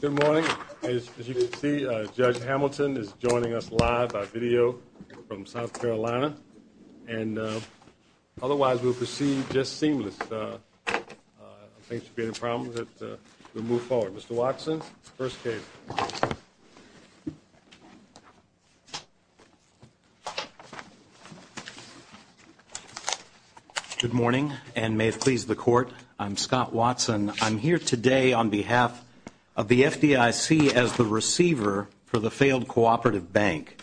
Good morning. As you can see, Judge Hamilton is joining us live by video from South Carolina. And otherwise, we'll proceed just seamless. I don't think there should be any problems. We'll move forward. Mr. Watson, first case. Good morning, and may it please the Court, I'm Scott Watson. I'm here today on behalf of the FDIC as the receiver for the failed cooperative bank.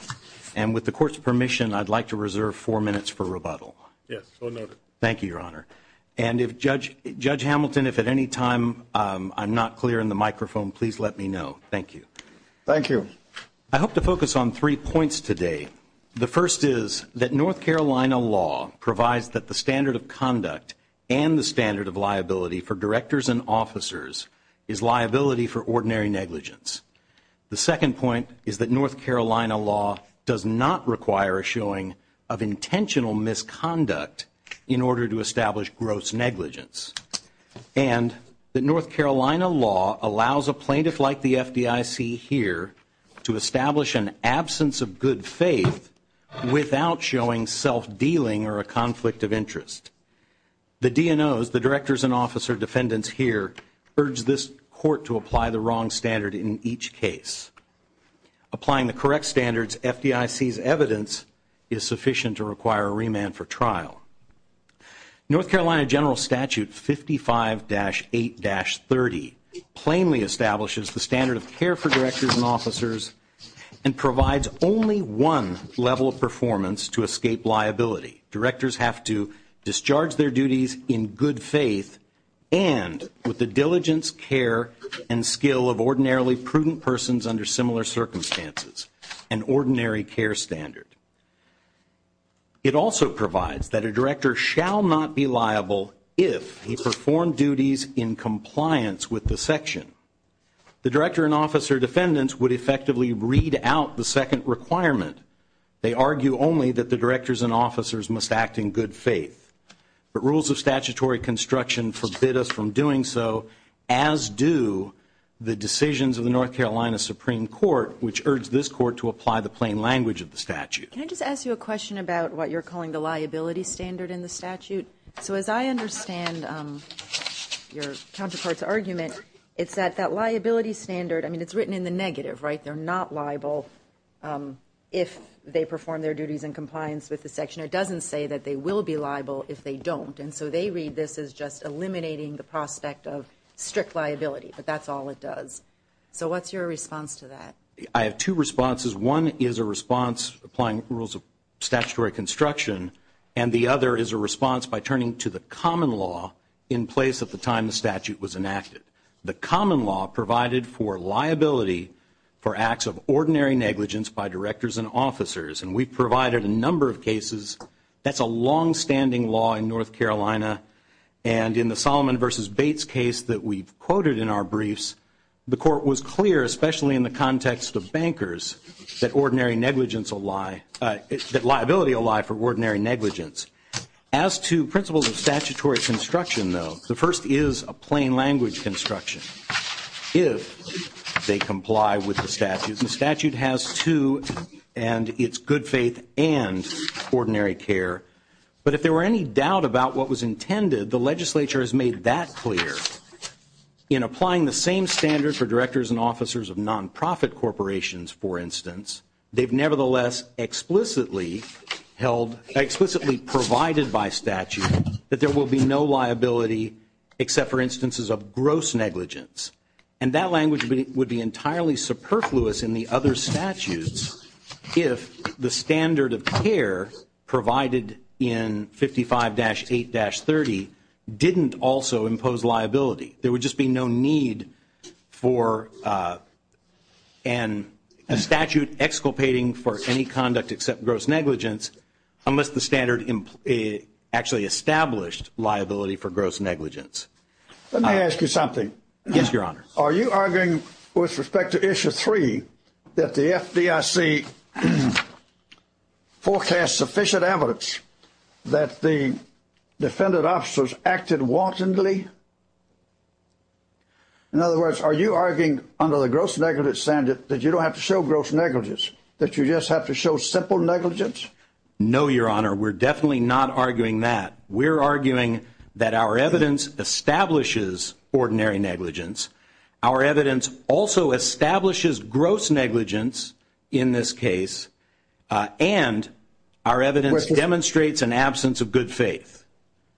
And with the Court's permission, I'd like to reserve four minutes for rebuttal. Yes, so noted. Thank you, Your Honor. And if Judge Hamilton, if at any time I'm not clear in the microphone, please let me know. Thank you. Thank you. I hope to focus on three points today. The first is that North Carolina law provides that the standard of conduct and the standard of liability for directors and officers is liability for ordinary negligence. The second point is that North Carolina law does not require a showing of intentional misconduct in order to establish gross negligence. And that North Carolina law allows a plaintiff like the FDIC here to establish an absence of good faith without showing self-dealing or a conflict of interest. The DNOs, the directors and officer defendants here, urge this Court to apply the wrong standard in each case. Applying the correct standards, FDIC's evidence is sufficient to require a remand for trial. North Carolina General Statute 55-8-30 plainly establishes the standard of care for directors and officers and provides only one level of performance to escape liability. Directors have to discharge their duties in good faith and with the diligence, care, and skill of ordinarily prudent persons under similar circumstances. An ordinary care standard. It also provides that a director shall not be liable if he performed duties in compliance with the section. The director and officer defendants would effectively read out the second requirement. They argue only that the directors and officers must act in good faith. But rules of statutory construction forbid us from doing so, as do the decisions of the North Carolina Supreme Court, which urge this Court to apply the plain language of the statute. Can I just ask you a question about what you're calling the liability standard in the statute? So as I understand your counterpart's argument, it's that that liability standard, I mean, it's written in the negative, right? They're not liable if they perform their duties in compliance with the section. It doesn't say that they will be liable if they don't. And so they read this as just eliminating the prospect of strict liability. But that's all it does. So what's your response to that? I have two responses. One is a response applying rules of statutory construction. And the other is a response by turning to the common law in place at the time the statute was enacted. The common law provided for liability for acts of ordinary negligence by directors and officers. And we've provided a number of cases. That's a longstanding law in North Carolina. And in the Solomon v. Bates case that we've quoted in our briefs, the Court was clear, especially in the context of bankers, that liability will lie for ordinary negligence. As to principles of statutory construction, though, the first is a plain language construction if they comply with the statute. And the statute has two, and it's good faith and ordinary care. But if there were any doubt about what was intended, the legislature has made that clear. In applying the same standard for directors and officers of nonprofit corporations, for instance, they've nevertheless explicitly provided by statute that there will be no liability except for instances of gross negligence. And that language would be entirely superfluous in the other statutes if the standard of care provided in 55-8-30 didn't also impose liability. There would just be no need for a statute exculpating for any conduct except gross negligence unless the standard actually established liability for gross negligence. Let me ask you something. Yes, Your Honor. Are you arguing with respect to Issue 3 that the FDIC forecasts sufficient evidence that the defendant officers acted wantonly? In other words, are you arguing under the gross negligence standard that you don't have to show gross negligence, that you just have to show simple negligence? No, Your Honor. We're definitely not arguing that. We're arguing that our evidence establishes ordinary negligence. Our evidence also establishes gross negligence in this case, and our evidence demonstrates an absence of good faith.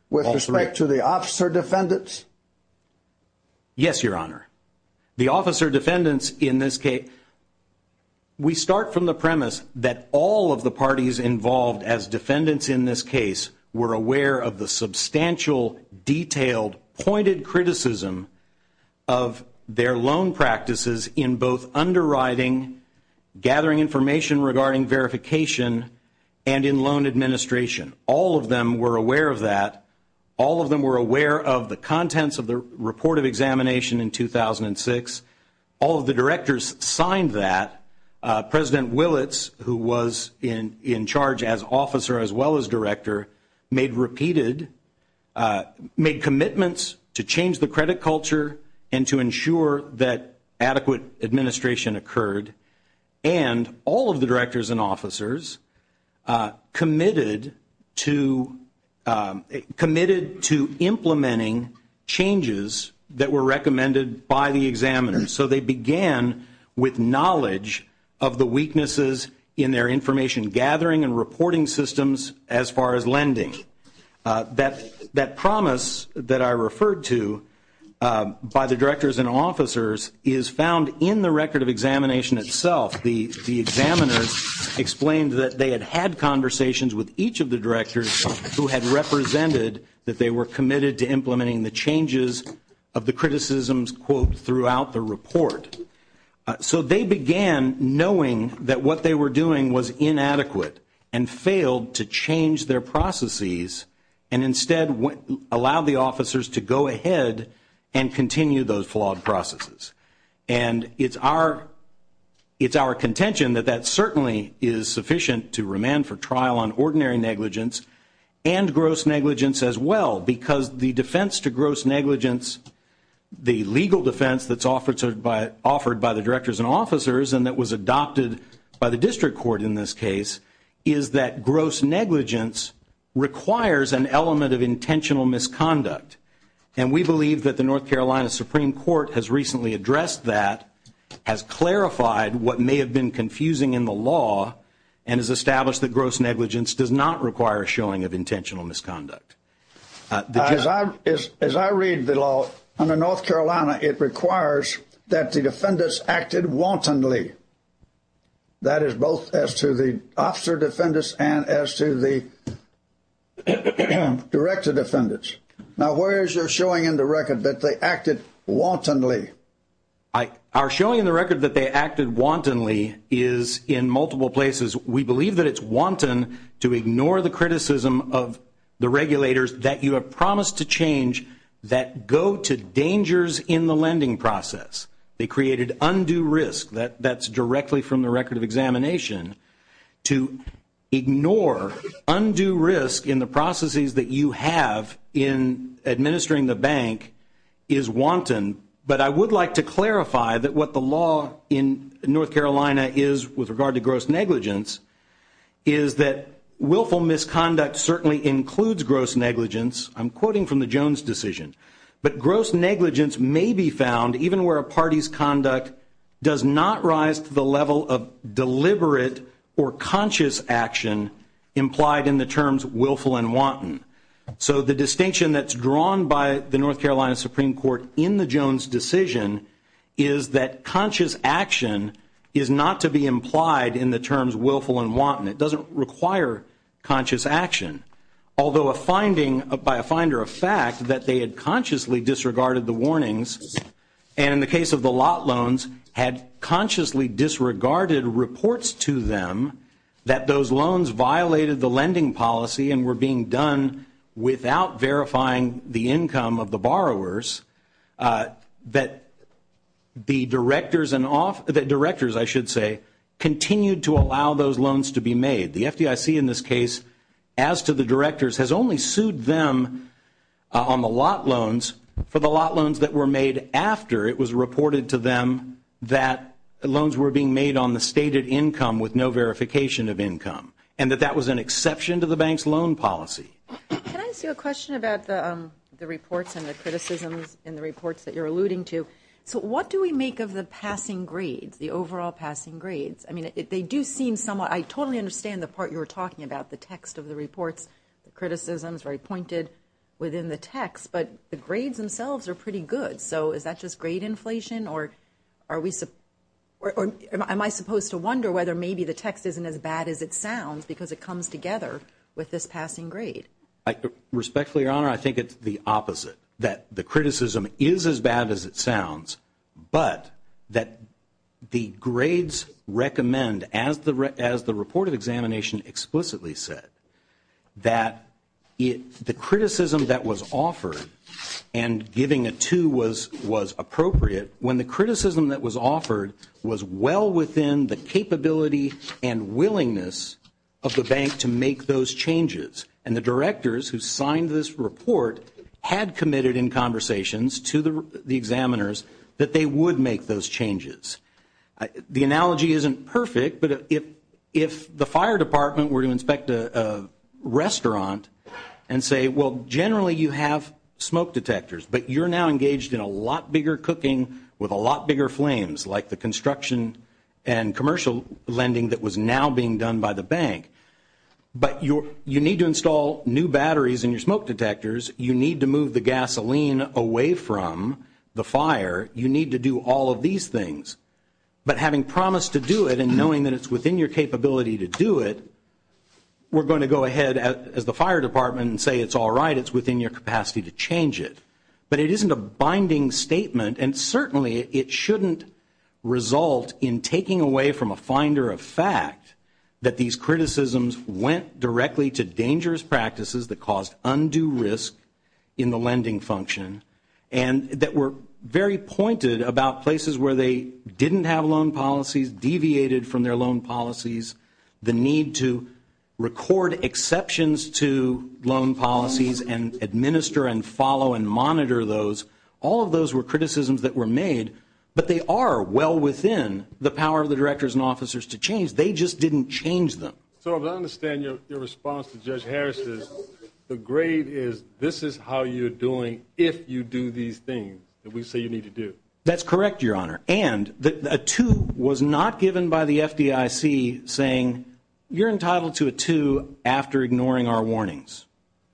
With respect to the officer defendants? Yes, Your Honor. The officer defendants in this case, we start from the premise that all of the parties involved as defendants in this case were aware of the substantial, detailed, pointed criticism of their loan practices in both underwriting, gathering information regarding verification, and in loan administration. All of them were aware of that. All of them were aware of the contents of the report of examination in 2006. All of the directors signed that. President Willits, who was in charge as officer as well as director, made repeated commitments to change the credit culture and to ensure that adequate administration occurred. And all of the directors and officers committed to implementing changes that were recommended by the examiners. So they began with knowledge of the weaknesses in their information gathering and reporting systems as far as lending. That promise that I referred to by the directors and officers is found in the record of examination itself. The examiners explained that they had had conversations with each of the directors who had represented that they were committed to implementing the changes of the criticisms, quote, throughout the report. So they began knowing that what they were doing was inadequate and failed to change their processes and instead allowed the officers to go ahead and continue those flawed processes. And it's our contention that that certainly is sufficient to remand for trial on ordinary negligence and gross negligence as well, because the defense to gross negligence, the legal defense that's offered by the directors and officers and that was adopted by the district court in this case, is that gross negligence requires an element of intentional misconduct. And we believe that the North Carolina Supreme Court has recently addressed that, has clarified what may have been confusing in the law, and has established that gross negligence does not require showing of intentional misconduct. As I read the law under North Carolina, it requires that the defendants acted wantonly. That is both as to the officer defendants and as to the director defendants. Now, where is your showing in the record that they acted wantonly? Our showing in the record that they acted wantonly is in multiple places. We believe that it's wanton to ignore the criticism of the regulators that you have promised to change that go to dangers in the lending process. They created undue risk. That's directly from the record of examination. To ignore undue risk in the processes that you have in administering the bank is wanton. But I would like to clarify that what the law in North Carolina is with regard to gross negligence is that willful misconduct certainly includes gross negligence. I'm quoting from the Jones decision. But gross negligence may be found even where a party's conduct does not rise to the level of deliberate or conscious action implied in the terms willful and wanton. So the distinction that's drawn by the North Carolina Supreme Court in the Jones decision is that conscious action is not to be implied in the terms willful and wanton. It doesn't require conscious action. Although a finding by a finder of fact that they had consciously disregarded the warnings and in the case of the lot loans had consciously disregarded reports to them that those loans violated the lending policy and were being done without verifying the income of the borrowers, that the directors continued to allow those loans to be made. The FDIC in this case, as to the directors, has only sued them on the lot loans for the lot loans that were made after it was reported to them that loans were being made on the stated income with no verification of income and that that was an exception to the bank's loan policy. Can I ask you a question about the reports and the criticisms in the reports that you're alluding to? So what do we make of the passing grades, the overall passing grades? I mean, they do seem somewhat, I totally understand the part you were talking about, the text of the reports, the criticisms, very pointed within the text, but the grades themselves are pretty good. So is that just grade inflation or am I supposed to wonder whether maybe the text isn't as bad as it sounds because it comes together with this passing grade? Respectfully, Your Honor, I think it's the opposite, that the criticism is as bad as it sounds, but that the grades recommend, as the report of examination explicitly said, that the criticism that was offered and giving a two was appropriate when the criticism that was offered was well within the capability and willingness of the bank to make those changes. And the directors who signed this report had committed in conversations to the examiners that they would make those changes. The analogy isn't perfect, but if the fire department were to inspect a restaurant and say, well, generally you have smoke detectors, but you're now engaged in a lot bigger cooking with a lot bigger flames, like the construction and commercial lending that was now being done by the bank, but you need to install new batteries in your smoke detectors, you need to move the gasoline away from the fire, you need to do all of these things, but having promised to do it and knowing that it's within your capability to do it, we're going to go ahead, as the fire department, and say it's all right, it's within your capacity to change it. But it isn't a binding statement, and certainly it shouldn't result in taking away from a finder of fact that these criticisms went directly to dangerous practices that caused undue risk in the lending function and that were very pointed about places where they didn't have loan policies, deviated from their loan policies, the need to record exceptions to loan policies and administer and follow and monitor those. All of those were criticisms that were made, but they are well within the power of the directors and officers to change. They just didn't change them. So I understand your response to Judge Harris's. The grade is this is how you're doing if you do these things that we say you need to do. That's correct, Your Honor. And a 2 was not given by the FDIC saying you're entitled to a 2 after ignoring our warnings.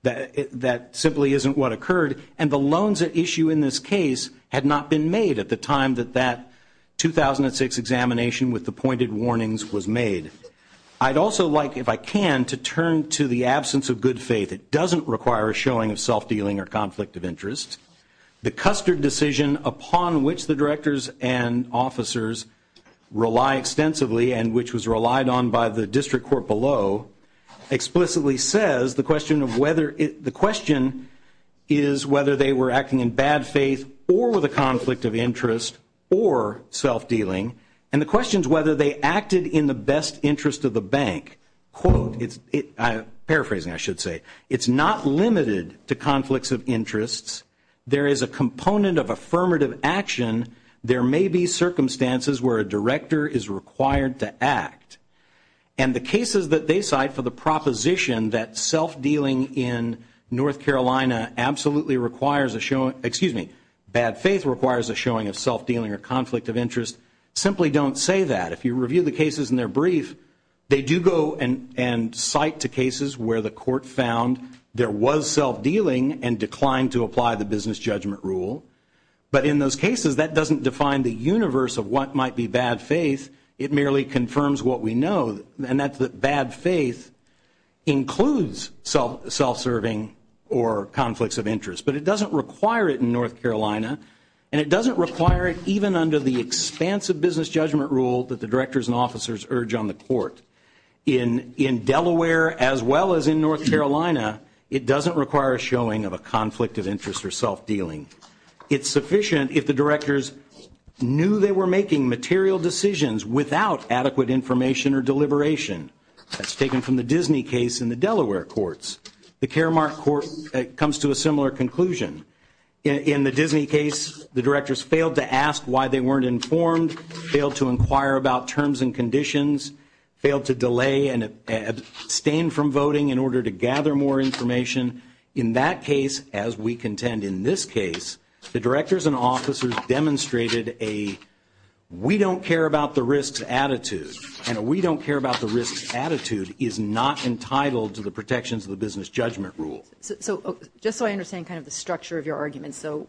That simply isn't what occurred, and the loans at issue in this case had not been made at the time that that 2006 examination with the pointed warnings was made. I'd also like, if I can, to turn to the absence of good faith. It doesn't require a showing of self-dealing or conflict of interest. The Custard decision upon which the directors and officers rely extensively and which was relied on by the district court below explicitly says the question is whether they were acting in bad faith or with a conflict of interest or self-dealing, and the question is whether they acted in the best interest of the bank. Quote, paraphrasing I should say, it's not limited to conflicts of interests. There is a component of affirmative action. There may be circumstances where a director is required to act. And the cases that they cite for the proposition that self-dealing in North Carolina absolutely requires a, excuse me, bad faith requires a showing of self-dealing or conflict of interest simply don't say that. If you review the cases in their brief, they do go and cite to cases where the court found there was self-dealing and declined to apply the business judgment rule. But in those cases, that doesn't define the universe of what might be bad faith. It merely confirms what we know, and that's that bad faith includes self-serving or conflicts of interest. But it doesn't require it in North Carolina, and it doesn't require it even under the expansive business judgment rule that the directors and officers urge on the court. In Delaware as well as in North Carolina, it doesn't require a showing of a conflict of interest or self-dealing. It's sufficient if the directors knew they were making material decisions without adequate information or deliberation. That's taken from the Disney case in the Delaware courts. The Karamark court comes to a similar conclusion. In the Disney case, the directors failed to ask why they weren't informed, failed to inquire about terms and conditions, failed to delay and abstain from voting in order to gather more information. In that case, as we contend in this case, the directors and officers demonstrated a we don't care about the risks attitude, and a we don't care about the risks attitude is not entitled to the protections of the business judgment rule. So just so I understand kind of the structure of your argument. So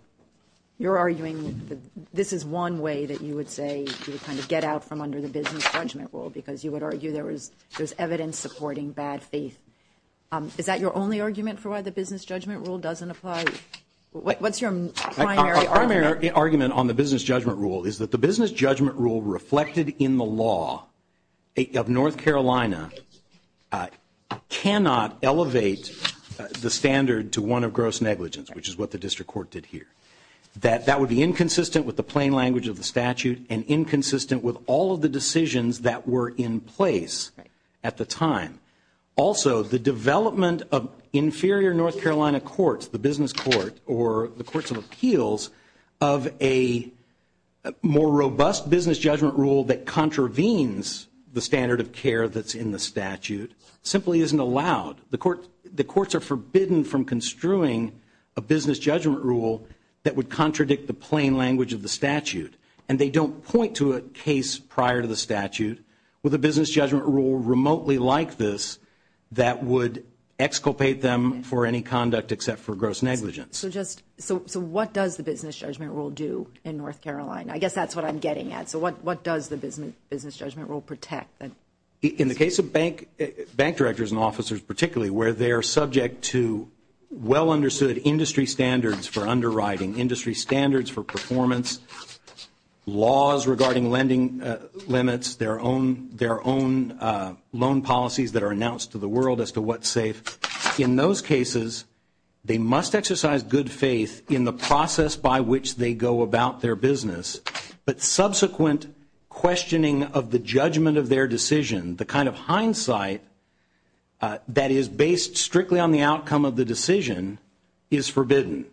you're arguing this is one way that you would say you would kind of get out from under the business judgment rule because you would argue there was evidence supporting bad faith. Is that your only argument for why the business judgment rule doesn't apply? What's your primary argument? My argument on the business judgment rule is that the business judgment rule reflected in the law of North Carolina cannot elevate the standard to one of gross negligence, which is what the district court did here. That would be inconsistent with the plain language of the statute and inconsistent with all of the decisions that were in place at the time. Also, the development of inferior North Carolina courts, the business court or the courts of appeals, of a more robust business judgment rule that contravenes the standard of care that's in the statute simply isn't allowed. The courts are forbidden from construing a business judgment rule that would contradict the plain language of the statute, and they don't point to a case prior to the statute with a business judgment rule remotely like this that would exculpate them for any conduct except for gross negligence. So what does the business judgment rule do in North Carolina? I guess that's what I'm getting at. So what does the business judgment rule protect? In the case of bank directors and officers particularly, where they are subject to well-understood industry standards for underwriting, industry standards for performance, laws regarding lending limits, their own loan policies that are announced to the world as to what's safe, in those cases they must exercise good faith in the process by which they go about their business. But subsequent questioning of the judgment of their decision, the kind of hindsight that is based strictly on the outcome of the decision is forbidden.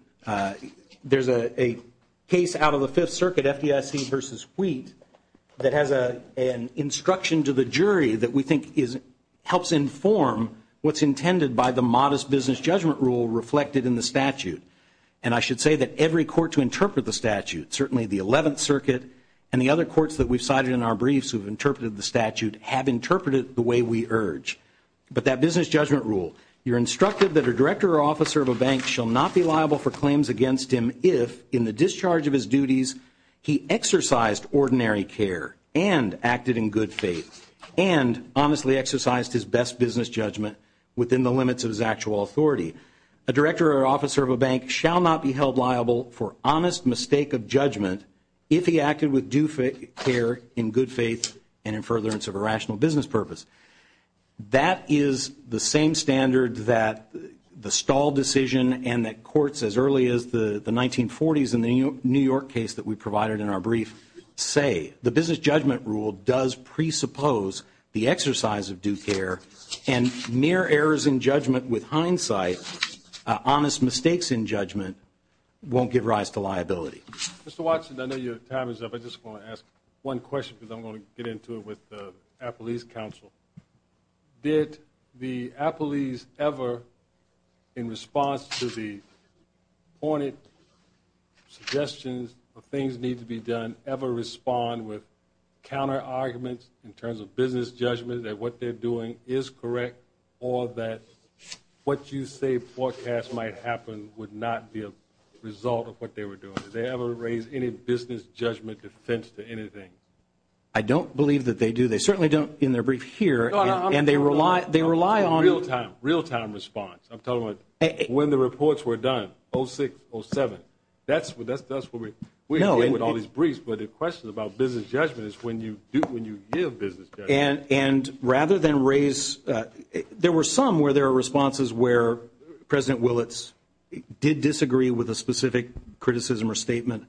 There's a case out of the Fifth Circuit, FDIC v. Wheat, that has an instruction to the jury that we think helps inform what's intended by the modest business judgment rule reflected in the statute. And I should say that every court to interpret the statute, certainly the Eleventh Circuit and the other courts that we've cited in our briefs who have interpreted the statute, have interpreted it the way we urge. But that business judgment rule, you're instructed that a director or officer of a bank shall not be liable for claims against him if in the discharge of his duties he exercised ordinary care and acted in good faith and honestly exercised his best business judgment within the limits of his actual authority. A director or officer of a bank shall not be held liable for honest mistake of judgment if he acted with due care in good faith and in furtherance of a rational business purpose. That is the same standard that the Stahl decision and that courts as early as the 1940s in the New York case that we provided in our brief say. The business judgment rule does presuppose the exercise of due care, and mere errors in judgment with hindsight, honest mistakes in judgment, won't give rise to liability. Mr. Watson, I know your time is up. I just want to ask one question because I'm going to get into it with the Appalese Council. Did the Appalese ever, in response to the pointed suggestions of things need to be done, ever respond with counterarguments in terms of business judgment that what they're doing is correct or that what you say forecast might happen would not be a result of what they were doing? Did they ever raise any business judgment defense to anything? I don't believe that they do. They certainly don't in their brief here. And they rely on real-time response. I'm talking about when the reports were done, 06, 07. That's what we're doing with all these briefs. But the question about business judgment is when you give business judgment. And rather than raise – there were some where there were responses where President Willits did disagree with a specific criticism or statement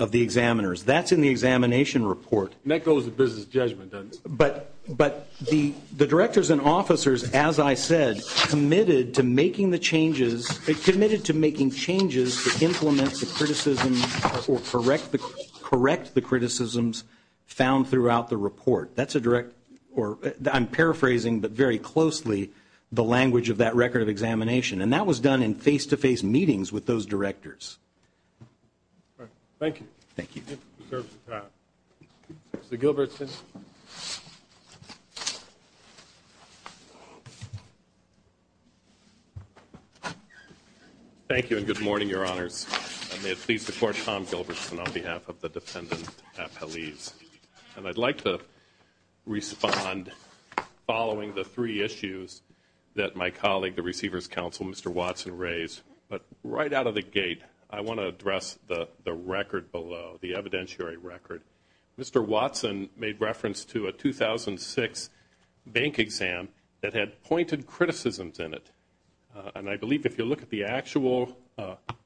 of the examiners. That's in the examination report. And that goes to business judgment, doesn't it? But the directors and officers, as I said, committed to making the changes – committed to making changes to implement the criticisms or correct the criticisms found throughout the report. That's a direct – or I'm paraphrasing, but very closely, the language of that record of examination. And that was done in face-to-face meetings with those directors. All right. Thank you. Thank you. Mr. Gilbertson. Thank you and good morning, Your Honors. And may it please the Court, Tom Gilbertson on behalf of the dependent at Paliz. And I'd like to respond following the three issues that my colleague, the Receiver's Counsel, Mr. Watson, raised. But right out of the gate, I want to address the record below, the evidentiary record. Mr. Watson made reference to a 2006 bank exam that had pointed criticisms in it. And I believe if you look at the actual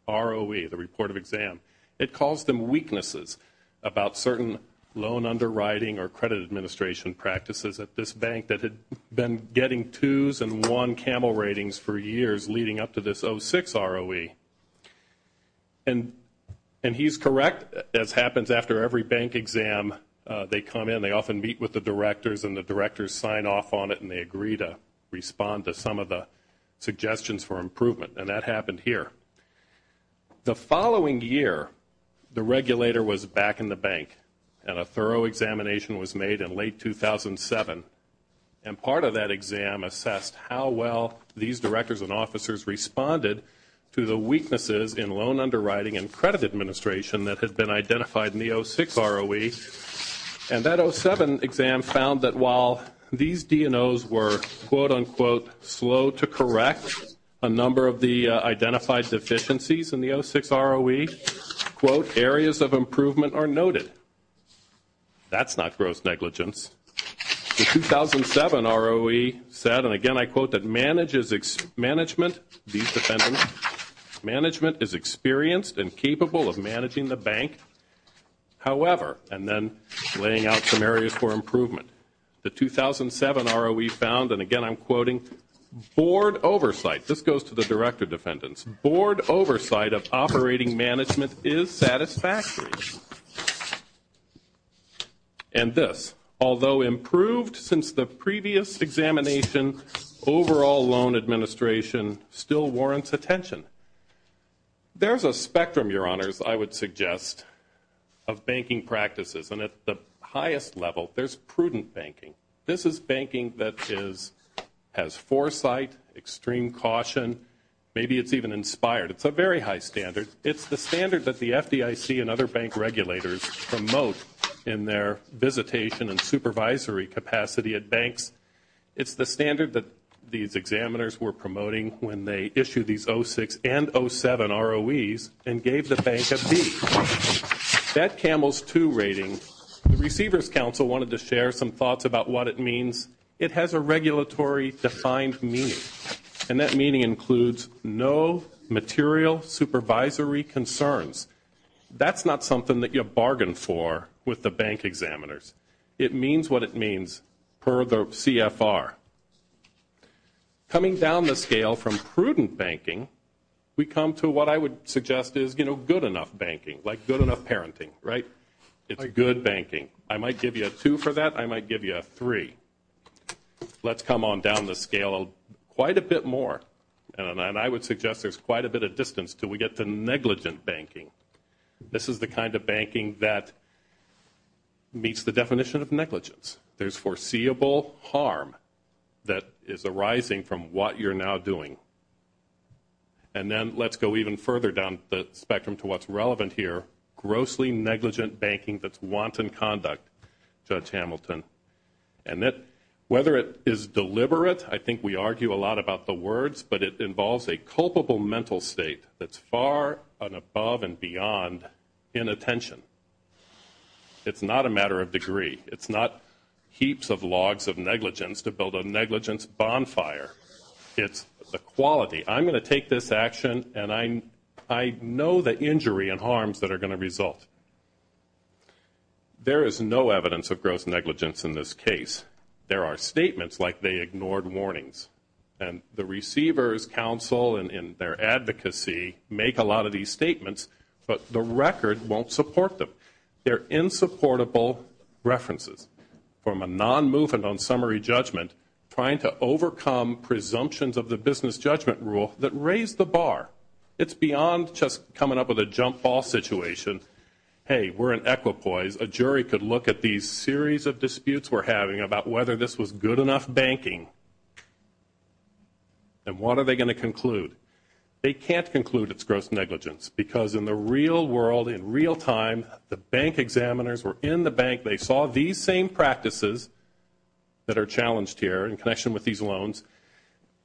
ROE, the report of exam, it calls them weaknesses about certain loan underwriting or credit administration practices at this bank that had been getting 2s and 1 camel ratings for years leading up to this 06 ROE. And he's correct, as happens after every bank exam, they come in, they often meet with the directors and the directors sign off on it and they agree to respond to some of the suggestions for improvement. And that happened here. The following year, the regulator was back in the bank and a thorough examination was made in late 2007. And part of that exam assessed how well these directors and officers responded to the weaknesses in loan underwriting and credit administration that had been identified in the 06 ROE. And that 07 exam found that while these DNOs were, quote, unquote, slow to correct a number of the identified deficiencies in the 06 ROE, quote, areas of improvement are noted. That's not gross negligence. The 2007 ROE said, and again I quote, that management is experienced and capable of managing the bank, however, and then laying out some areas for improvement. The 2007 ROE found, and again I'm quoting, board oversight. This goes to the director defendants. Board oversight of operating management is satisfactory. And this, although improved since the previous examination, overall loan administration still warrants attention. There's a spectrum, Your Honors, I would suggest, of banking practices. And at the highest level there's prudent banking. This is banking that has foresight, extreme caution. Maybe it's even inspired. It's a very high standard. It's the standard that the FDIC and other bank regulators promote in their visitation and supervisory capacity at banks. It's the standard that these examiners were promoting when they issued these 06 and 07 ROEs and gave the bank a B. That CAMELS II rating, the Receivers' Council wanted to share some thoughts about what it means. It has a regulatory defined meaning, and that meaning includes no material supervisory concerns. That's not something that you bargain for with the bank examiners. It means what it means per the CFR. Coming down the scale from prudent banking, we come to what I would suggest is good enough banking, like good enough parenting, right? It's good banking. I might give you a 2 for that. I might give you a 3. Let's come on down the scale quite a bit more, and I would suggest there's quite a bit of distance until we get to negligent banking. This is the kind of banking that meets the definition of negligence. There's foreseeable harm that is arising from what you're now doing. And then let's go even further down the spectrum to what's relevant here, grossly negligent banking that's wanton conduct, Judge Hamilton. And whether it is deliberate, I think we argue a lot about the words, but it involves a culpable mental state that's far and above and beyond inattention. It's not a matter of degree. It's not heaps of logs of negligence to build a negligence bonfire. It's the quality. I'm going to take this action, and I know the injury and harms that are going to result. There is no evidence of gross negligence in this case. There are statements like they ignored warnings, and the Receivers' Council in their advocacy make a lot of these statements, but the record won't support them. They're insupportable references from a non-movement on summary judgment trying to overcome presumptions of the business judgment rule that raise the bar. It's beyond just coming up with a jump-off situation. Hey, we're in equipoise. A jury could look at these series of disputes we're having about whether this was good enough banking, and what are they going to conclude? They can't conclude it's gross negligence, because in the real world, in real time, the bank examiners were in the bank. They saw these same practices that are challenged here in connection with these loans.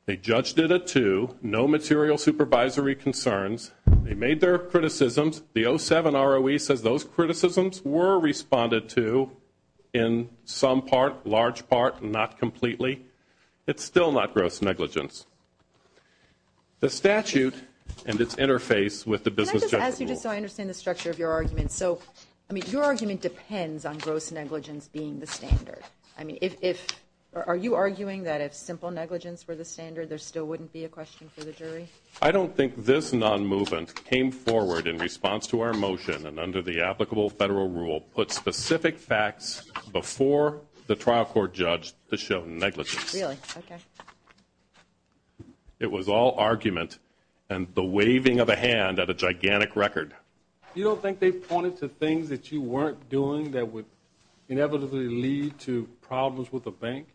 They judged it a two, no material supervisory concerns. They made their criticisms. The 07 ROE says those criticisms were responded to in some part, large part, not completely. It's still not gross negligence. The statute and its interface with the business judgment rule. Can I just ask you just so I understand the structure of your argument? So, I mean, your argument depends on gross negligence being the standard. I mean, are you arguing that if simple negligence were the standard, there still wouldn't be a question for the jury? I don't think this non-movement came forward in response to our motion and under the applicable federal rule put specific facts before the trial court judge to show negligence. Really? Okay. It was all argument and the waving of a hand at a gigantic record. You don't think they pointed to things that you weren't doing that would inevitably lead to problems with the bank,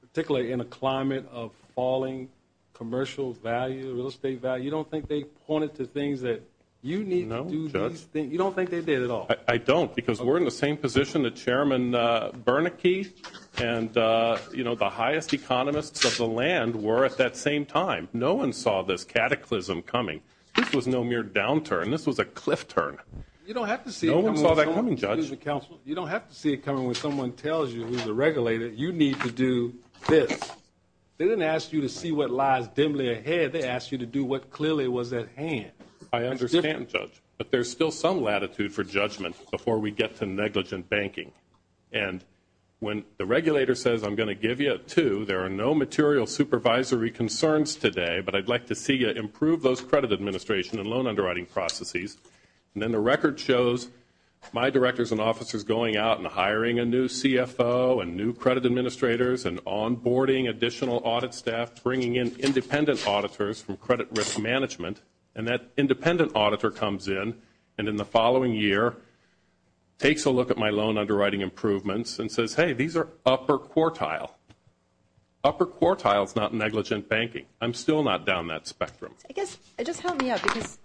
particularly in a climate of falling commercial value, real estate value? You don't think they pointed to things that you need to do? No, Judge. You don't think they did at all? I don't, because we're in the same position that Chairman Bernanke and the highest economists of the land were at that same time. No one saw this cataclysm coming. This was no mere downturn. This was a cliff turn. No one saw that coming, Judge. You don't have to see it coming when someone tells you, who's a regulator, you need to do this. They didn't ask you to see what lies dimly ahead. They asked you to do what clearly was at hand. I understand, Judge, but there's still some latitude for judgment before we get to negligent banking. And when the regulator says, I'm going to give you two, there are no material supervisory concerns today, but I'd like to see you improve those credit administration and loan underwriting processes, and then the record shows my directors and officers going out and hiring a new CFO and new credit administrators and onboarding additional audit staff, bringing in independent auditors from credit risk management, and that independent auditor comes in and in the following year takes a look at my loan underwriting improvements and says, hey, these are upper quartile. Upper quartile is not negligent banking. I'm still not down that spectrum. Just help me out because,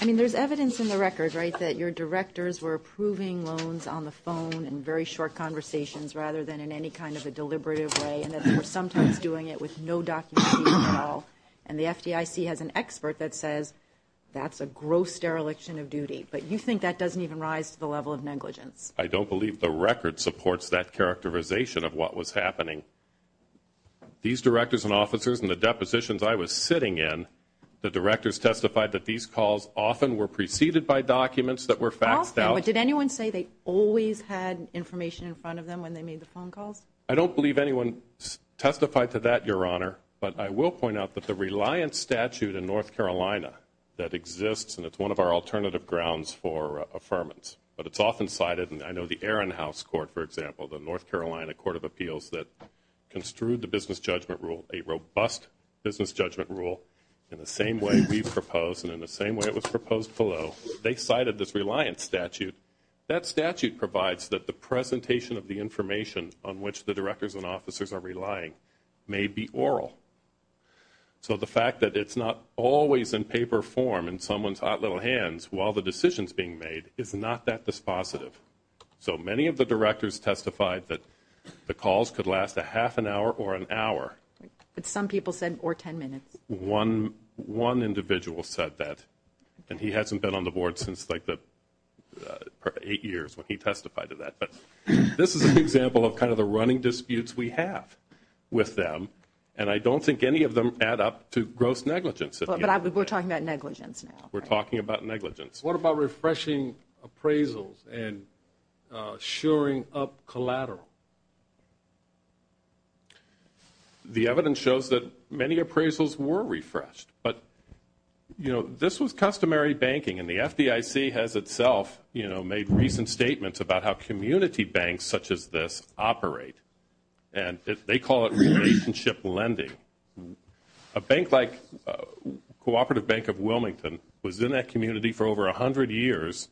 I mean, there's evidence in the record, right, that your directors were approving loans on the phone in very short conversations rather than in any kind of a deliberative way and that they were sometimes doing it with no documentation at all, and the FDIC has an expert that says that's a gross dereliction of duty, but you think that doesn't even rise to the level of negligence? I don't believe the record supports that characterization of what was happening. These directors and officers and the depositions I was sitting in, the directors testified that these calls often were preceded by documents that were faxed out. Often, but did anyone say they always had information in front of them when they made the phone calls? I don't believe anyone testified to that, Your Honor, but I will point out that the reliance statute in North Carolina that exists, and it's one of our alternative grounds for affirmance, but it's often cited, and I know the Ehrenhaus Court, for example, the North Carolina Court of Appeals that construed the business judgment rule, a robust business judgment rule in the same way we propose and in the same way it was proposed below. They cited this reliance statute. That statute provides that the presentation of the information on which the directors and officers are relying may be oral. So the fact that it's not always in paper form in someone's hot little hands while the decision is being made is not that dispositive. So many of the directors testified that the calls could last a half an hour or an hour. But some people said, or 10 minutes. One individual said that, and he hasn't been on the Board since like eight years when he testified to that. But this is an example of kind of the running disputes we have with them, and I don't think any of them add up to gross negligence. But we're talking about negligence now. We're talking about negligence. What about refreshing appraisals and shoring up collateral? The evidence shows that many appraisals were refreshed, but this was customary banking, and the FDIC has itself made recent statements about how community banks such as this operate, and they call it relationship lending. A bank like Cooperative Bank of Wilmington was in that community for over 100 years.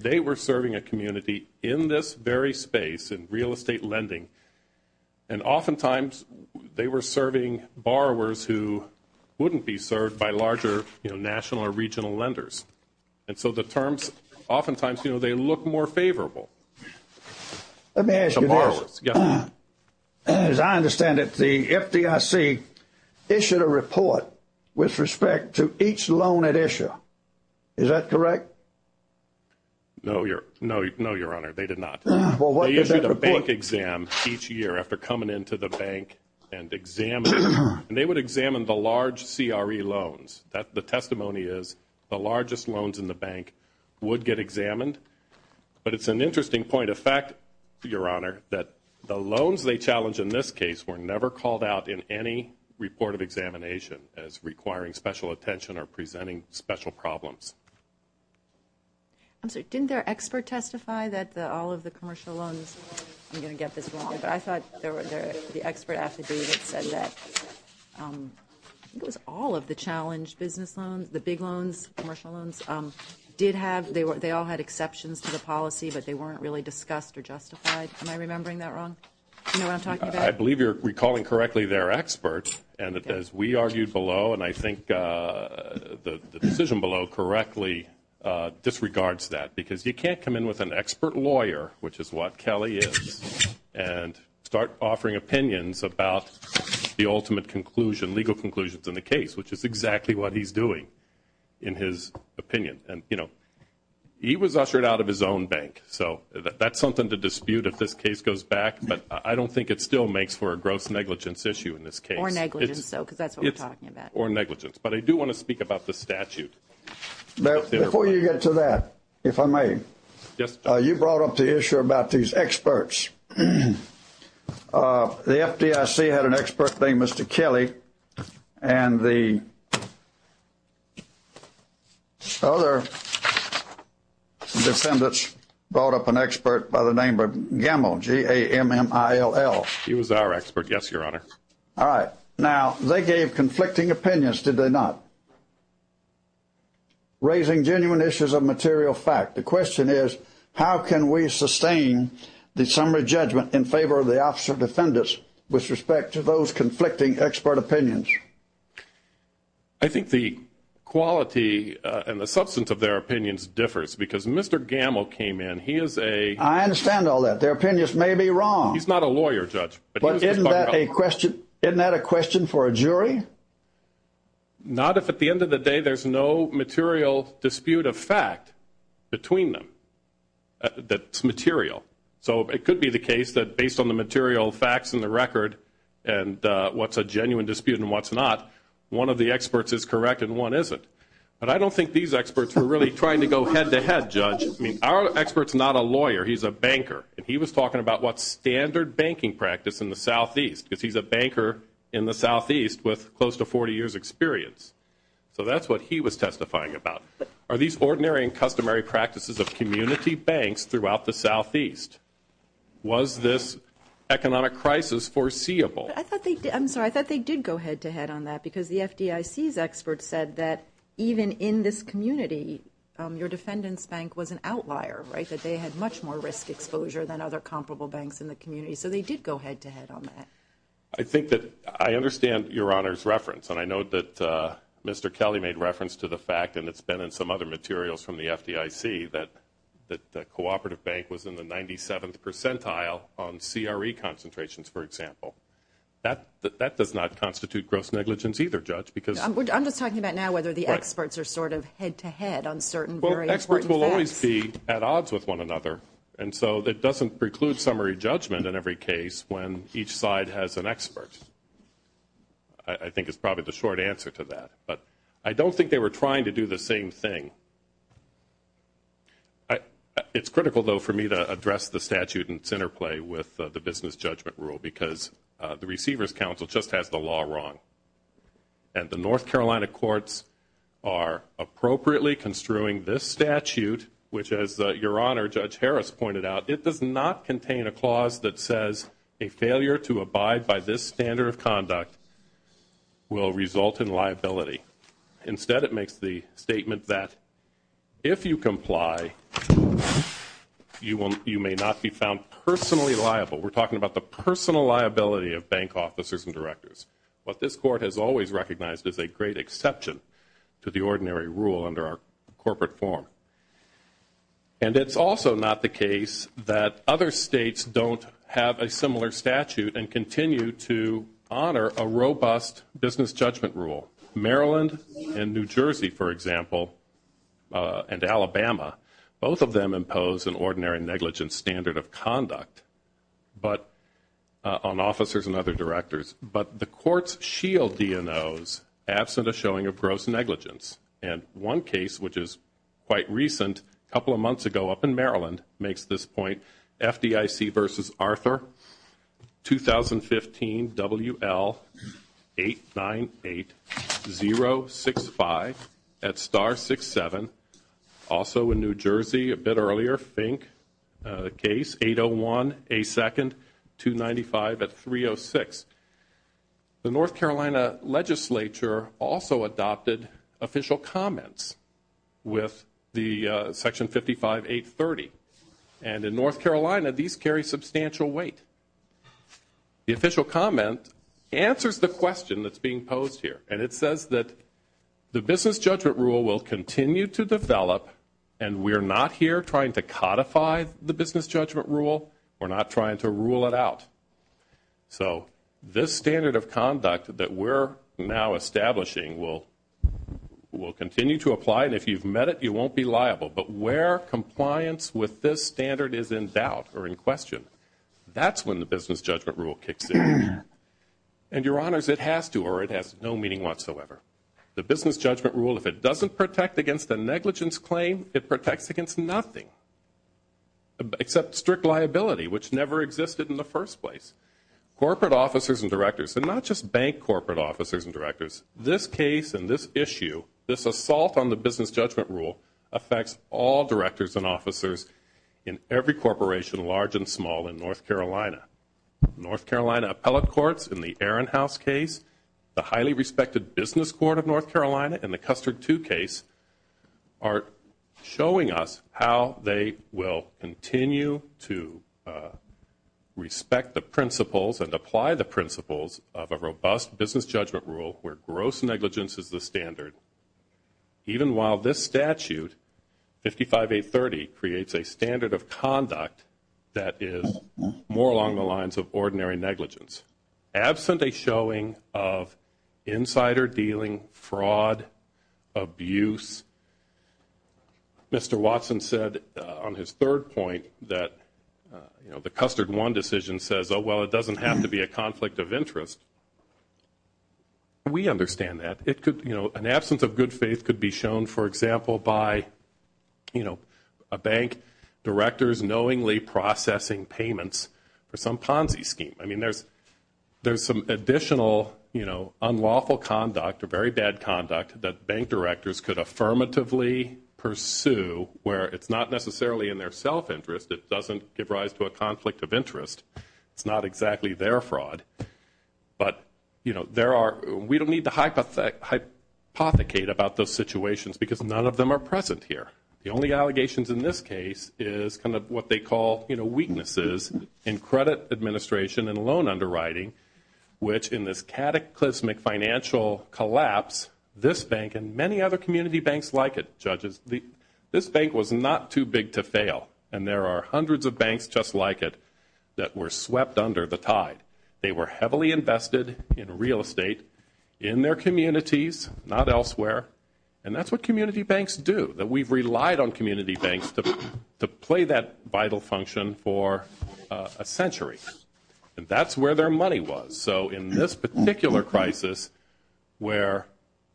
They were serving a community in this very space in real estate lending, and oftentimes they were serving borrowers who wouldn't be served by larger national or regional lenders. And so the terms oftentimes, you know, they look more favorable to borrowers. Let me ask you this. As I understand it, the FDIC issued a report with respect to each loan it issued. Is that correct? No, Your Honor, they did not. They issued a bank exam each year after coming into the bank and examining it, and they would examine the large CRE loans. The testimony is the largest loans in the bank would get examined. But it's an interesting point of fact, Your Honor, that the loans they challenged in this case were never called out in any report of examination as requiring special attention or presenting special problems. I'm sorry. Didn't their expert testify that all of the commercial loans, I'm going to get this wrong, but I thought the expert affidavit said that I think it was all of the challenged business loans, the big loans, commercial loans, did have, they all had exceptions to the policy, but they weren't really discussed or justified. Am I remembering that wrong? Do you know what I'm talking about? I believe you're recalling correctly they're experts, and as we argued below, and I think the decision below correctly disregards that, because you can't come in with an expert lawyer, which is what Kelly is, and start offering opinions about the ultimate conclusion, legal conclusions in the case, which is exactly what he's doing in his opinion. And, you know, he was ushered out of his own bank, so that's something to dispute if this case goes back, but I don't think it still makes for a gross negligence issue in this case. Or negligence, though, because that's what we're talking about. Or negligence. But I do want to speak about the statute. Before you get to that, if I may, you brought up the issue about these experts. The FDIC had an expert named Mr. Kelly, and the other defendants brought up an expert by the name of Gammill, G-A-M-M-I-L-L. He was our expert, yes, Your Honor. All right. Now, they gave conflicting opinions, did they not? Raising genuine issues of material fact. The question is, how can we sustain the summary judgment in favor of the officer defendants with respect to those conflicting expert opinions? I think the quality and the substance of their opinions differs, because Mr. Gammill came in. He is a – I understand all that. Their opinions may be wrong. He's not a lawyer, Judge. But isn't that a question for a jury? Not if at the end of the day there's no material dispute of fact between them that's material. So it could be the case that based on the material facts in the record and what's a genuine dispute and what's not, one of the experts is correct and one isn't. But I don't think these experts were really trying to go head-to-head, Judge. I mean, our expert's not a lawyer. He's a banker. And he was talking about what's standard banking practice in the Southeast, because he's a banker in the Southeast with close to 40 years' experience. So that's what he was testifying about. Are these ordinary and customary practices of community banks throughout the Southeast? Was this economic crisis foreseeable? I'm sorry, I thought they did go head-to-head on that, because the FDIC's experts said that even in this community, your defendant's bank was an outlier, right, that they had much more risk exposure than other comparable banks in the community. So they did go head-to-head on that. I think that I understand Your Honor's reference, and I note that Mr. Kelly made reference to the fact, and it's been in some other materials from the FDIC, that the cooperative bank was in the 97th percentile on CRE concentrations, for example. That does not constitute gross negligence either, Judge, because – I'm just talking about now whether the experts are sort of head-to-head on certain very important facts. Courts will always be at odds with one another, and so it doesn't preclude summary judgment in every case when each side has an expert. I think it's probably the short answer to that. But I don't think they were trying to do the same thing. It's critical, though, for me to address the statute in its interplay with the business judgment rule, because the Receivers' Council just has the law wrong, and the North Carolina courts are appropriately construing this statute, which, as Your Honor, Judge Harris pointed out, it does not contain a clause that says a failure to abide by this standard of conduct will result in liability. Instead, it makes the statement that if you comply, you may not be found personally liable. We're talking about the personal liability of bank officers and directors. What this Court has always recognized is a great exception to the ordinary rule under our corporate form. And it's also not the case that other states don't have a similar statute and continue to honor a robust business judgment rule. Maryland and New Jersey, for example, and Alabama, both of them impose an ordinary negligent standard of conduct on officers and other directors, but the courts shield DNOs absent a showing of gross negligence. And one case, which is quite recent, a couple of months ago up in Maryland, makes this point. FDIC v. Arthur, 2015, WL898065 at Star 67. Also in New Jersey, a bit earlier, Fink case, 801A2, 295 at 306. The North Carolina legislature also adopted official comments with the Section 55830. And in North Carolina, these carry substantial weight. The official comment answers the question that's being posed here, and it says that the business judgment rule will continue to develop, and we're not here trying to codify the business judgment rule. We're not trying to rule it out. So this standard of conduct that we're now establishing will continue to apply, and if you've met it, you won't be liable. But where compliance with this standard is in doubt or in question, that's when the business judgment rule kicks in. And, Your Honors, it has to, or it has no meaning whatsoever. The business judgment rule, if it doesn't protect against a negligence claim, it protects against nothing except strict liability, which never existed in the first place. Corporate officers and directors, and not just bank corporate officers and directors, this case and this issue, this assault on the business judgment rule, affects all directors and officers in every corporation, large and small, in North Carolina. North Carolina appellate courts in the Ehrenhaus case, the highly respected business court of North Carolina in the Custard II case, are showing us how they will continue to respect the principles and apply the principles of a robust business judgment rule where gross negligence is the standard. Even while this statute, 55830, creates a standard of conduct that is more along the lines of ordinary negligence. Absent a showing of insider dealing, fraud, abuse, Mr. Watson said on his third point that the Custard I decision says, oh, well, it doesn't have to be a conflict of interest. We understand that. An absence of good faith could be shown, for example, by a bank director's knowingly processing payments for some Ponzi scheme. I mean, there's some additional unlawful conduct or very bad conduct that bank directors could affirmatively pursue where it's not necessarily in their self-interest. It doesn't give rise to a conflict of interest. It's not exactly their fraud. But, you know, we don't need to hypothecate about those situations because none of them are present here. The only allegations in this case is kind of what they call, you know, weaknesses in credit administration and loan underwriting, which in this cataclysmic financial collapse, this bank and many other community banks like it, judges, this bank was not too big to fail. They were heavily invested in real estate in their communities, not elsewhere. And that's what community banks do, that we've relied on community banks to play that vital function for a century. And that's where their money was. So in this particular crisis where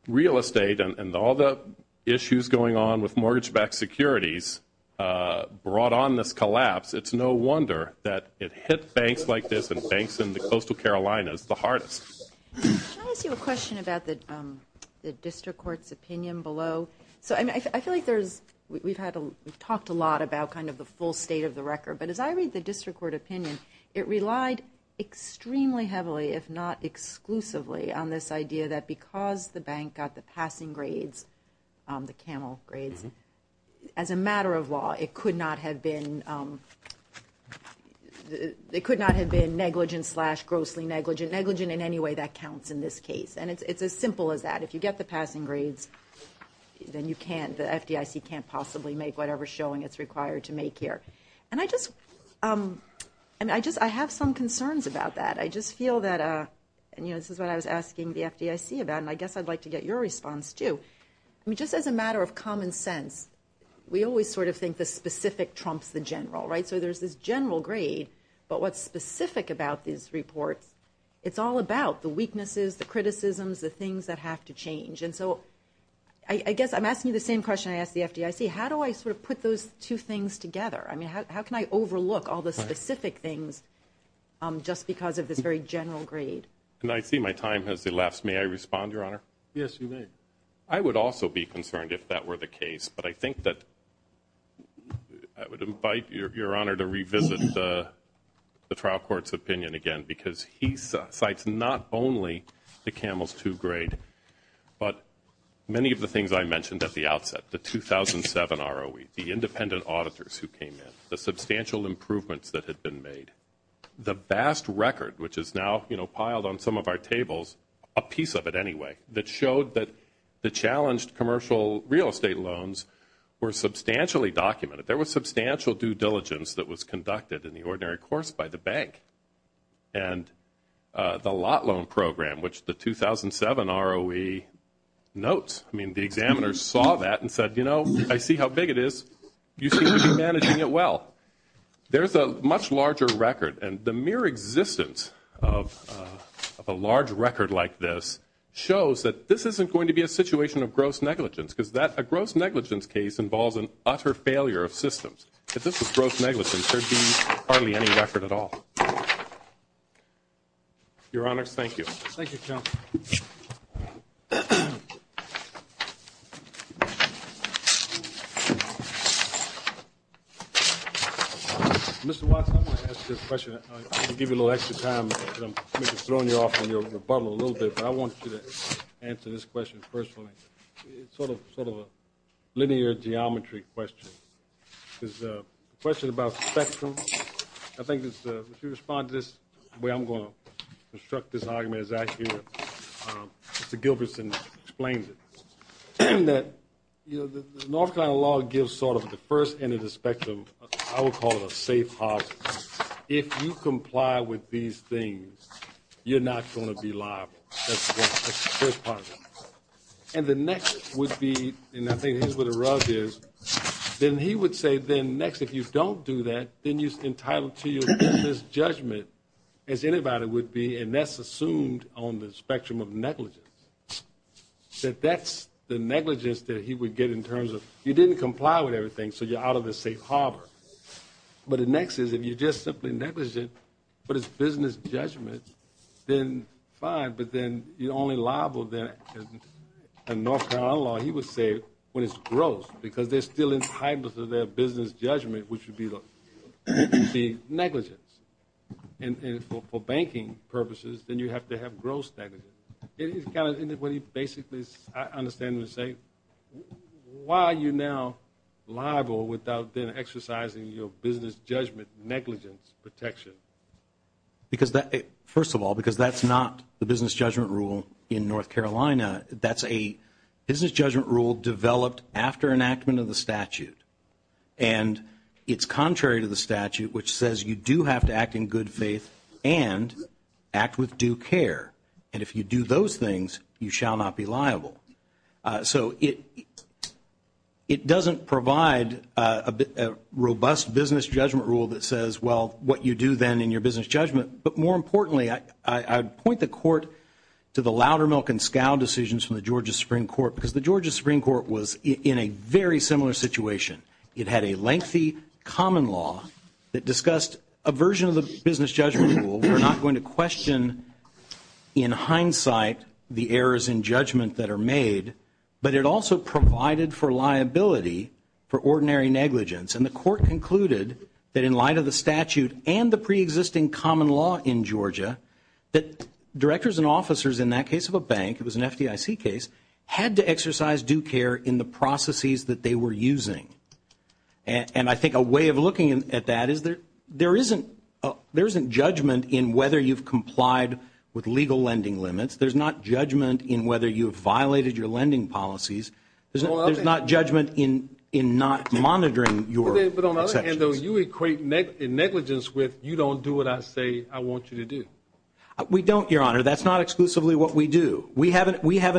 real estate and all the issues going on with mortgage-backed securities brought on this collapse, it's no wonder that it hit banks like this and banks in the coastal Carolinas the hardest. Can I ask you a question about the district court's opinion below? So I feel like we've talked a lot about kind of the full state of the record, but as I read the district court opinion, it relied extremely heavily, if not exclusively, on this idea that because the bank got the passing grades, the CAMEL grades, as a matter of law, it could not have been negligent slash grossly negligent. Negligent in any way that counts in this case. And it's as simple as that. If you get the passing grades, then you can't, the FDIC can't possibly make whatever showing it's required to make here. And I just have some concerns about that. I just feel that, and this is what I was asking the FDIC about, and I guess I'd like to get your response, too. I mean, just as a matter of common sense, we always sort of think the specific trumps the general, right? So there's this general grade, but what's specific about these reports, it's all about the weaknesses, the criticisms, the things that have to change. And so I guess I'm asking you the same question I asked the FDIC. How do I sort of put those two things together? I mean, how can I overlook all the specific things just because of this very general grade? And I see my time has elapsed. May I respond, Your Honor? Yes, you may. I would also be concerned if that were the case, but I think that I would invite Your Honor to revisit the trial court's opinion again because he cites not only the CAMELS II grade, but many of the things I mentioned at the outset, the 2007 ROE, the independent auditors who came in, the substantial improvements that had been made, the vast record, which is now piled on some of our tables, a piece of it anyway, that showed that the challenged commercial real estate loans were substantially documented. There was substantial due diligence that was conducted in the ordinary course by the bank. And the lot loan program, which the 2007 ROE notes, I mean, the examiners saw that and said, you know, I see how big it is. You seem to be managing it well. There's a much larger record, and the mere existence of a large record like this shows that this isn't going to be a situation of gross negligence because a gross negligence case involves an utter failure of systems. If this was gross negligence, there would be hardly any record at all. Your Honors, thank you. Thank you, Counselor. Mr. Watson, I want to ask you a question. I'm going to give you a little extra time because I'm going to be throwing you off in the bubble a little bit, but I want you to answer this question personally. It's sort of a linear geometry question. It's a question about spectrum. I think if you respond to this the way I'm going to construct this argument is I hear Mr. Gilperson explains it, that the North Carolina law gives sort of the first end of the spectrum, I would call it a safe house. If you comply with these things, you're not going to be liable. That's the first part of it. And the next would be, and I think here's where the rug is, then he would say then next if you don't do that, then you're entitled to your business judgment, as anybody would be, and that's assumed on the spectrum of negligence. That that's the negligence that he would get in terms of you didn't comply with everything, so you're out of a safe harbor. But the next is if you just simply negligent, but it's business judgment, then fine, but then you're only liable then in North Carolina law, he would say, when it's gross, because they're still entitled to their business judgment, which would be negligence. And for banking purposes, then you have to have gross negligence. It is kind of what he basically is understanding to say, why are you now liable without then exercising your business judgment negligence protection? First of all, because that's not the business judgment rule in North Carolina. That's a business judgment rule developed after enactment of the statute. And it's contrary to the statute, which says you do have to act in good faith and act with due care. And if you do those things, you shall not be liable. So it doesn't provide a robust business judgment rule that says, well, what you do then in your business judgment. But more importantly, I'd point the court to the Loudermilk and Scow decisions from the Georgia Supreme Court, because the Georgia Supreme Court was in a very similar situation. It had a lengthy common law that discussed a version of the business judgment rule. We're not going to question in hindsight the errors in judgment that are made, but it also provided for liability for ordinary negligence. And the court concluded that in light of the statute and the preexisting common law in Georgia, that directors and officers in that case of a bank, it was an FDIC case, had to exercise due care in the processes that they were using. And I think a way of looking at that is there isn't judgment in whether you've complied with legal lending limits. There's not judgment in whether you've violated your lending policies. There's not judgment in not monitoring your exceptions. But on the other hand, though, you equate negligence with you don't do what I say I want you to do. We don't, Your Honor. That's not exclusively what we do. We have an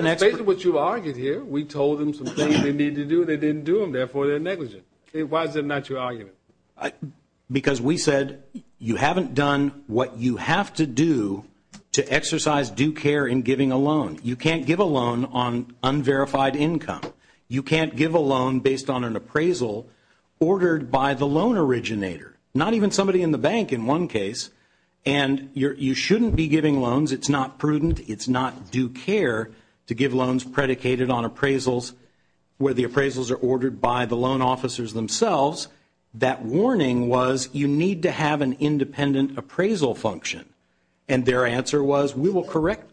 expert. We told them some things they need to do. They didn't do them. Therefore, they're negligent. Why is it not your argument? Because we said you haven't done what you have to do to exercise due care in giving a loan. You can't give a loan on unverified income. You can't give a loan based on an appraisal ordered by the loan originator, not even somebody in the bank in one case. And you shouldn't be giving loans. It's not prudent. It's not due care to give loans predicated on appraisals where the appraisals are ordered by the loan officers themselves. That warning was you need to have an independent appraisal function. And their answer was we will correct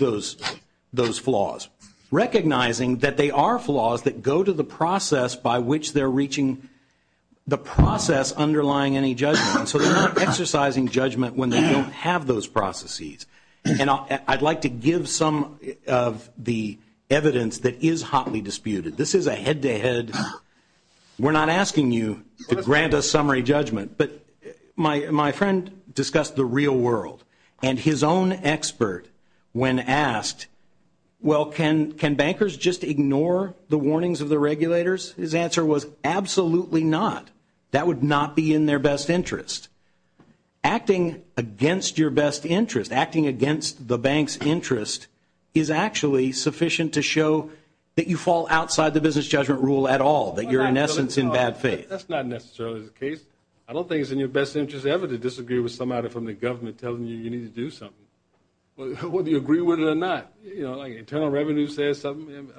those flaws, recognizing that they are flaws that go to the process by which they're reaching the process underlying any judgment. So they're not exercising judgment when they don't have those processes. And I'd like to give some of the evidence that is hotly disputed. This is a head-to-head. We're not asking you to grant a summary judgment. But my friend discussed the real world. And his own expert, when asked, well, can bankers just ignore the warnings of the regulators, his answer was absolutely not. That would not be in their best interest. Acting against your best interest, acting against the bank's interest, is actually sufficient to show that you fall outside the business judgment rule at all, that you're in essence in bad faith. That's not necessarily the case. I don't think it's in your best interest ever to disagree with somebody from the government telling you you need to do something, whether you agree with it or not. You know, like Internal Revenue says something,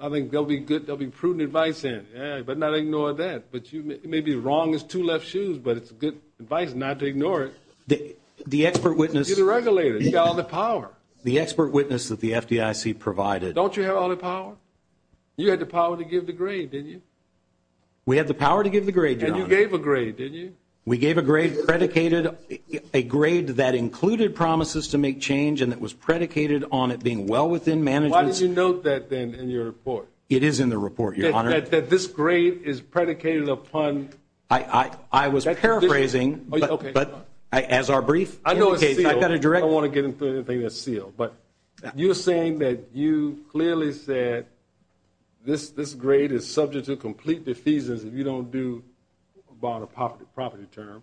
I think they'll be prudent advice in. But not ignore that. But you may be wrong as two left shoes, but it's good advice not to ignore it. The expert witness. You're the regulator. You've got all the power. The expert witness that the FDIC provided. Don't you have all the power? You had the power to give the grade, didn't you? We had the power to give the grade, Your Honor. And you gave a grade, didn't you? We gave a grade predicated, a grade that included promises to make change and that was predicated on it being well within management's. Why did you note that then in your report? It is in the report, Your Honor. That this grade is predicated upon. I was paraphrasing, but as our brief indicates. I know it's sealed. I've got to direct. I don't want to get into anything that's sealed. But you're saying that you clearly said this grade is subject to complete defeasance if you don't do, about a property term,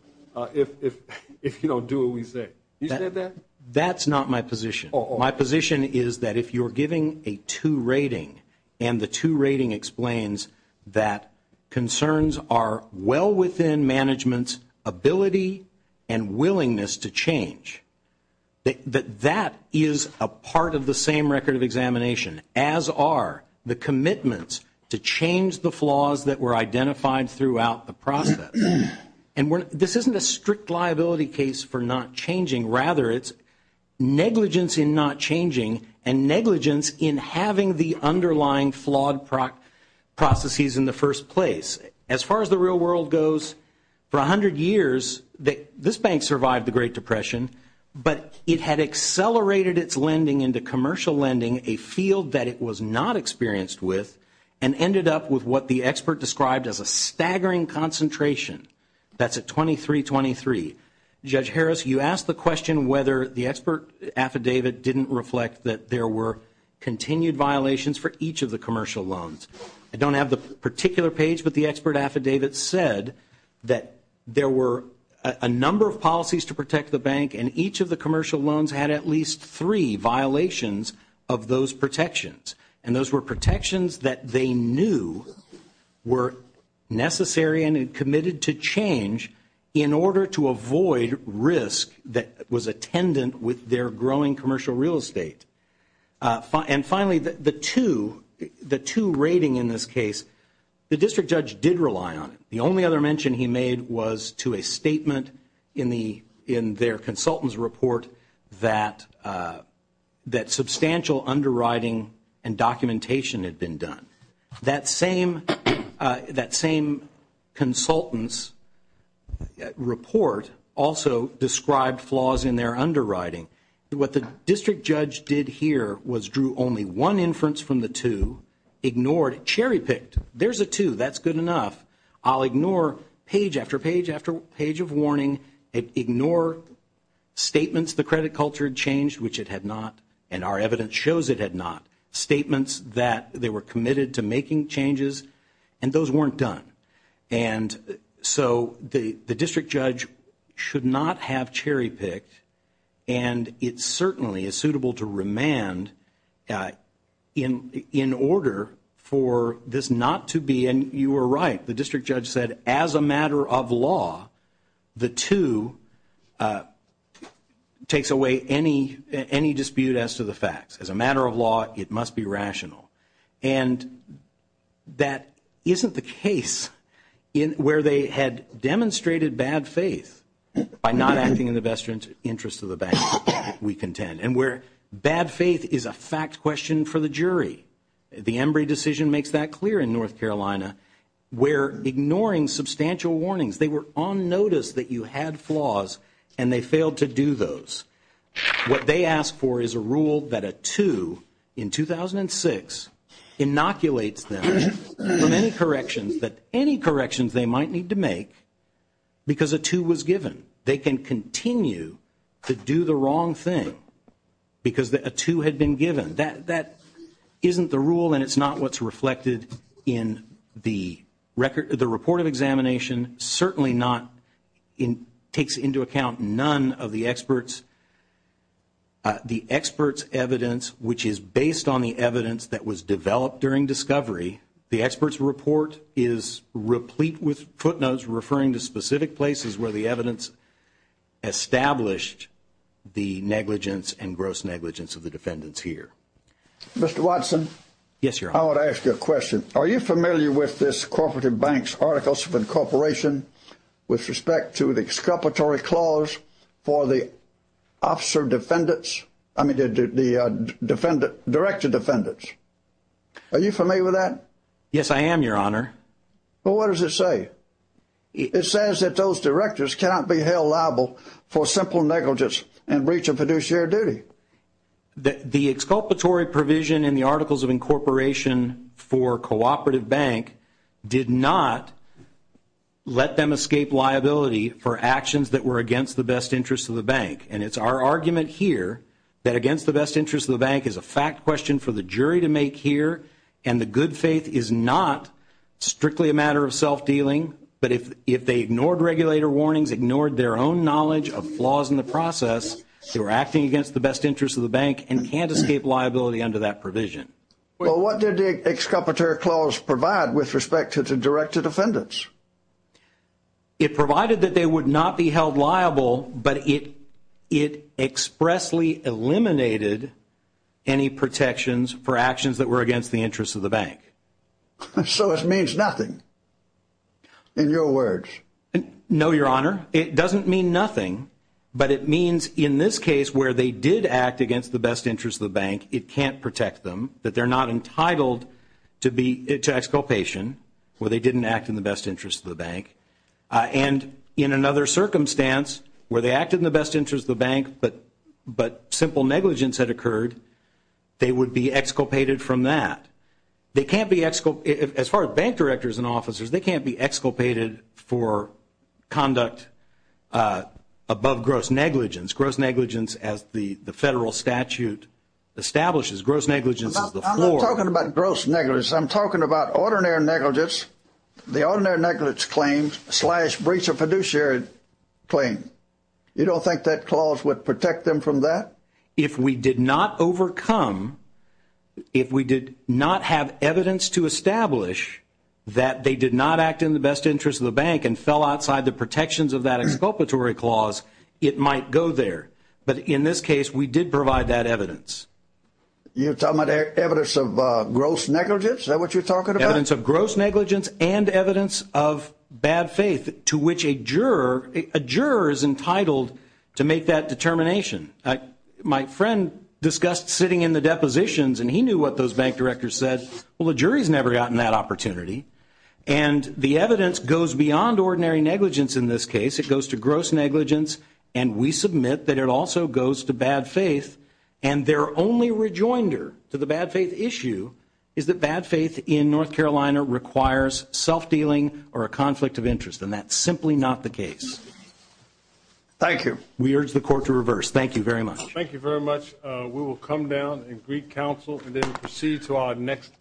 if you don't do what we say. You said that? That's not my position. My position is that if you're giving a 2 rating and the 2 rating explains that concerns are well within management's ability and willingness to change, that that is a part of the same record of examination, as are the commitments to change the flaws that were identified throughout the process. And this isn't a strict liability case for not changing. Rather, it's negligence in not changing and negligence in having the underlying flawed processes in the first place. As far as the real world goes, for 100 years, this bank survived the Great Depression, but it had accelerated its lending into commercial lending, a field that it was not experienced with, and ended up with what the expert described as a staggering concentration. That's at 2323. Judge Harris, you asked the question whether the expert affidavit didn't reflect that there were continued violations for each of the commercial loans. I don't have the particular page, but the expert affidavit said that there were a number of policies to protect the bank, and each of the commercial loans had at least three violations of those protections. And those were protections that they knew were necessary and committed to change in order to avoid risk that was attendant with their growing commercial real estate. And finally, the two rating in this case, the district judge did rely on it. The only other mention he made was to a statement in their consultant's report that substantial underwriting and documentation had been done. That same consultant's report also described flaws in their underwriting. What the district judge did here was drew only one inference from the two, ignored, cherry-picked, there's a two, that's good enough. I'll ignore page after page after page of warning, ignore statements the credit culture had changed, which it had not, and our evidence shows it had not. Statements that they were committed to making changes, and those weren't done. And so the district judge should not have cherry-picked, and it certainly is suitable to remand in order for this not to be, and you were right, the district judge said as a matter of law, the two takes away any dispute as to the facts. As a matter of law, it must be rational. And that isn't the case where they had demonstrated bad faith by not acting in the best interest of the bank, we contend, and where bad faith is a fact question for the jury. The Embry decision makes that clear in North Carolina. We're ignoring substantial warnings. They were on notice that you had flaws, and they failed to do those. What they asked for is a rule that a two in 2006 inoculates them from any corrections, that any corrections they might need to make, because a two was given. They can continue to do the wrong thing because a two had been given. That isn't the rule, and it's not what's reflected in the report of examination, certainly not takes into account none of the expert's evidence, which is based on the evidence that was developed during discovery. The expert's report is replete with footnotes referring to specific places where the evidence established the negligence and gross negligence of the defendants here. Mr. Watson? Yes, Your Honor. I want to ask you a question. Are you familiar with this corporate bank's articles of incorporation with respect to the exculpatory clause for the officer defendants? I mean the director defendants. Are you familiar with that? Yes, I am, Your Honor. Well, what does it say? It says that those directors cannot be held liable for simple negligence and breach of fiduciary duty. The exculpatory provision in the articles of incorporation for a cooperative bank did not let them escape liability for actions that were against the best interest of the bank. And it's our argument here that against the best interest of the bank is a fact question for the jury to make here, and the good faith is not strictly a matter of self-dealing. But if they ignored regulator warnings, ignored their own knowledge of flaws in the process, they were acting against the best interest of the bank and can't escape liability under that provision. Well, what did the exculpatory clause provide with respect to the director defendants? It provided that they would not be held liable, but it expressly eliminated any protections for actions that were against the interest of the bank. So it means nothing in your words? No, Your Honor. It doesn't mean nothing, but it means in this case where they did act against the best interest of the bank, it can't protect them, that they're not entitled to exculpation where they didn't act in the best interest of the bank. And in another circumstance where they acted in the best interest of the bank but simple negligence had occurred, they would be exculpated from that. As far as bank directors and officers, they can't be exculpated for conduct above gross negligence. Gross negligence, as the federal statute establishes, gross negligence is the floor. I'm not talking about gross negligence. I'm talking about ordinary negligence, the ordinary negligence claims slash breach of fiduciary claim. You don't think that clause would protect them from that? If we did not overcome, if we did not have evidence to establish that they did not act in the best interest of the bank and fell outside the protections of that exculpatory clause, it might go there. But in this case, we did provide that evidence. You're talking about evidence of gross negligence? Is that what you're talking about? Evidence of gross negligence and evidence of bad faith to which a juror is entitled to make that determination. My friend discussed sitting in the depositions, and he knew what those bank directors said. Well, the jury's never gotten that opportunity, and the evidence goes beyond ordinary negligence in this case. It goes to gross negligence, and we submit that it also goes to bad faith, and their only rejoinder to the bad faith issue is that bad faith in North Carolina requires self-dealing or a conflict of interest, and that's simply not the case. Thank you. We urge the Court to reverse. Thank you very much. Thank you very much. We will come down and greet counsel, and then proceed to our next case.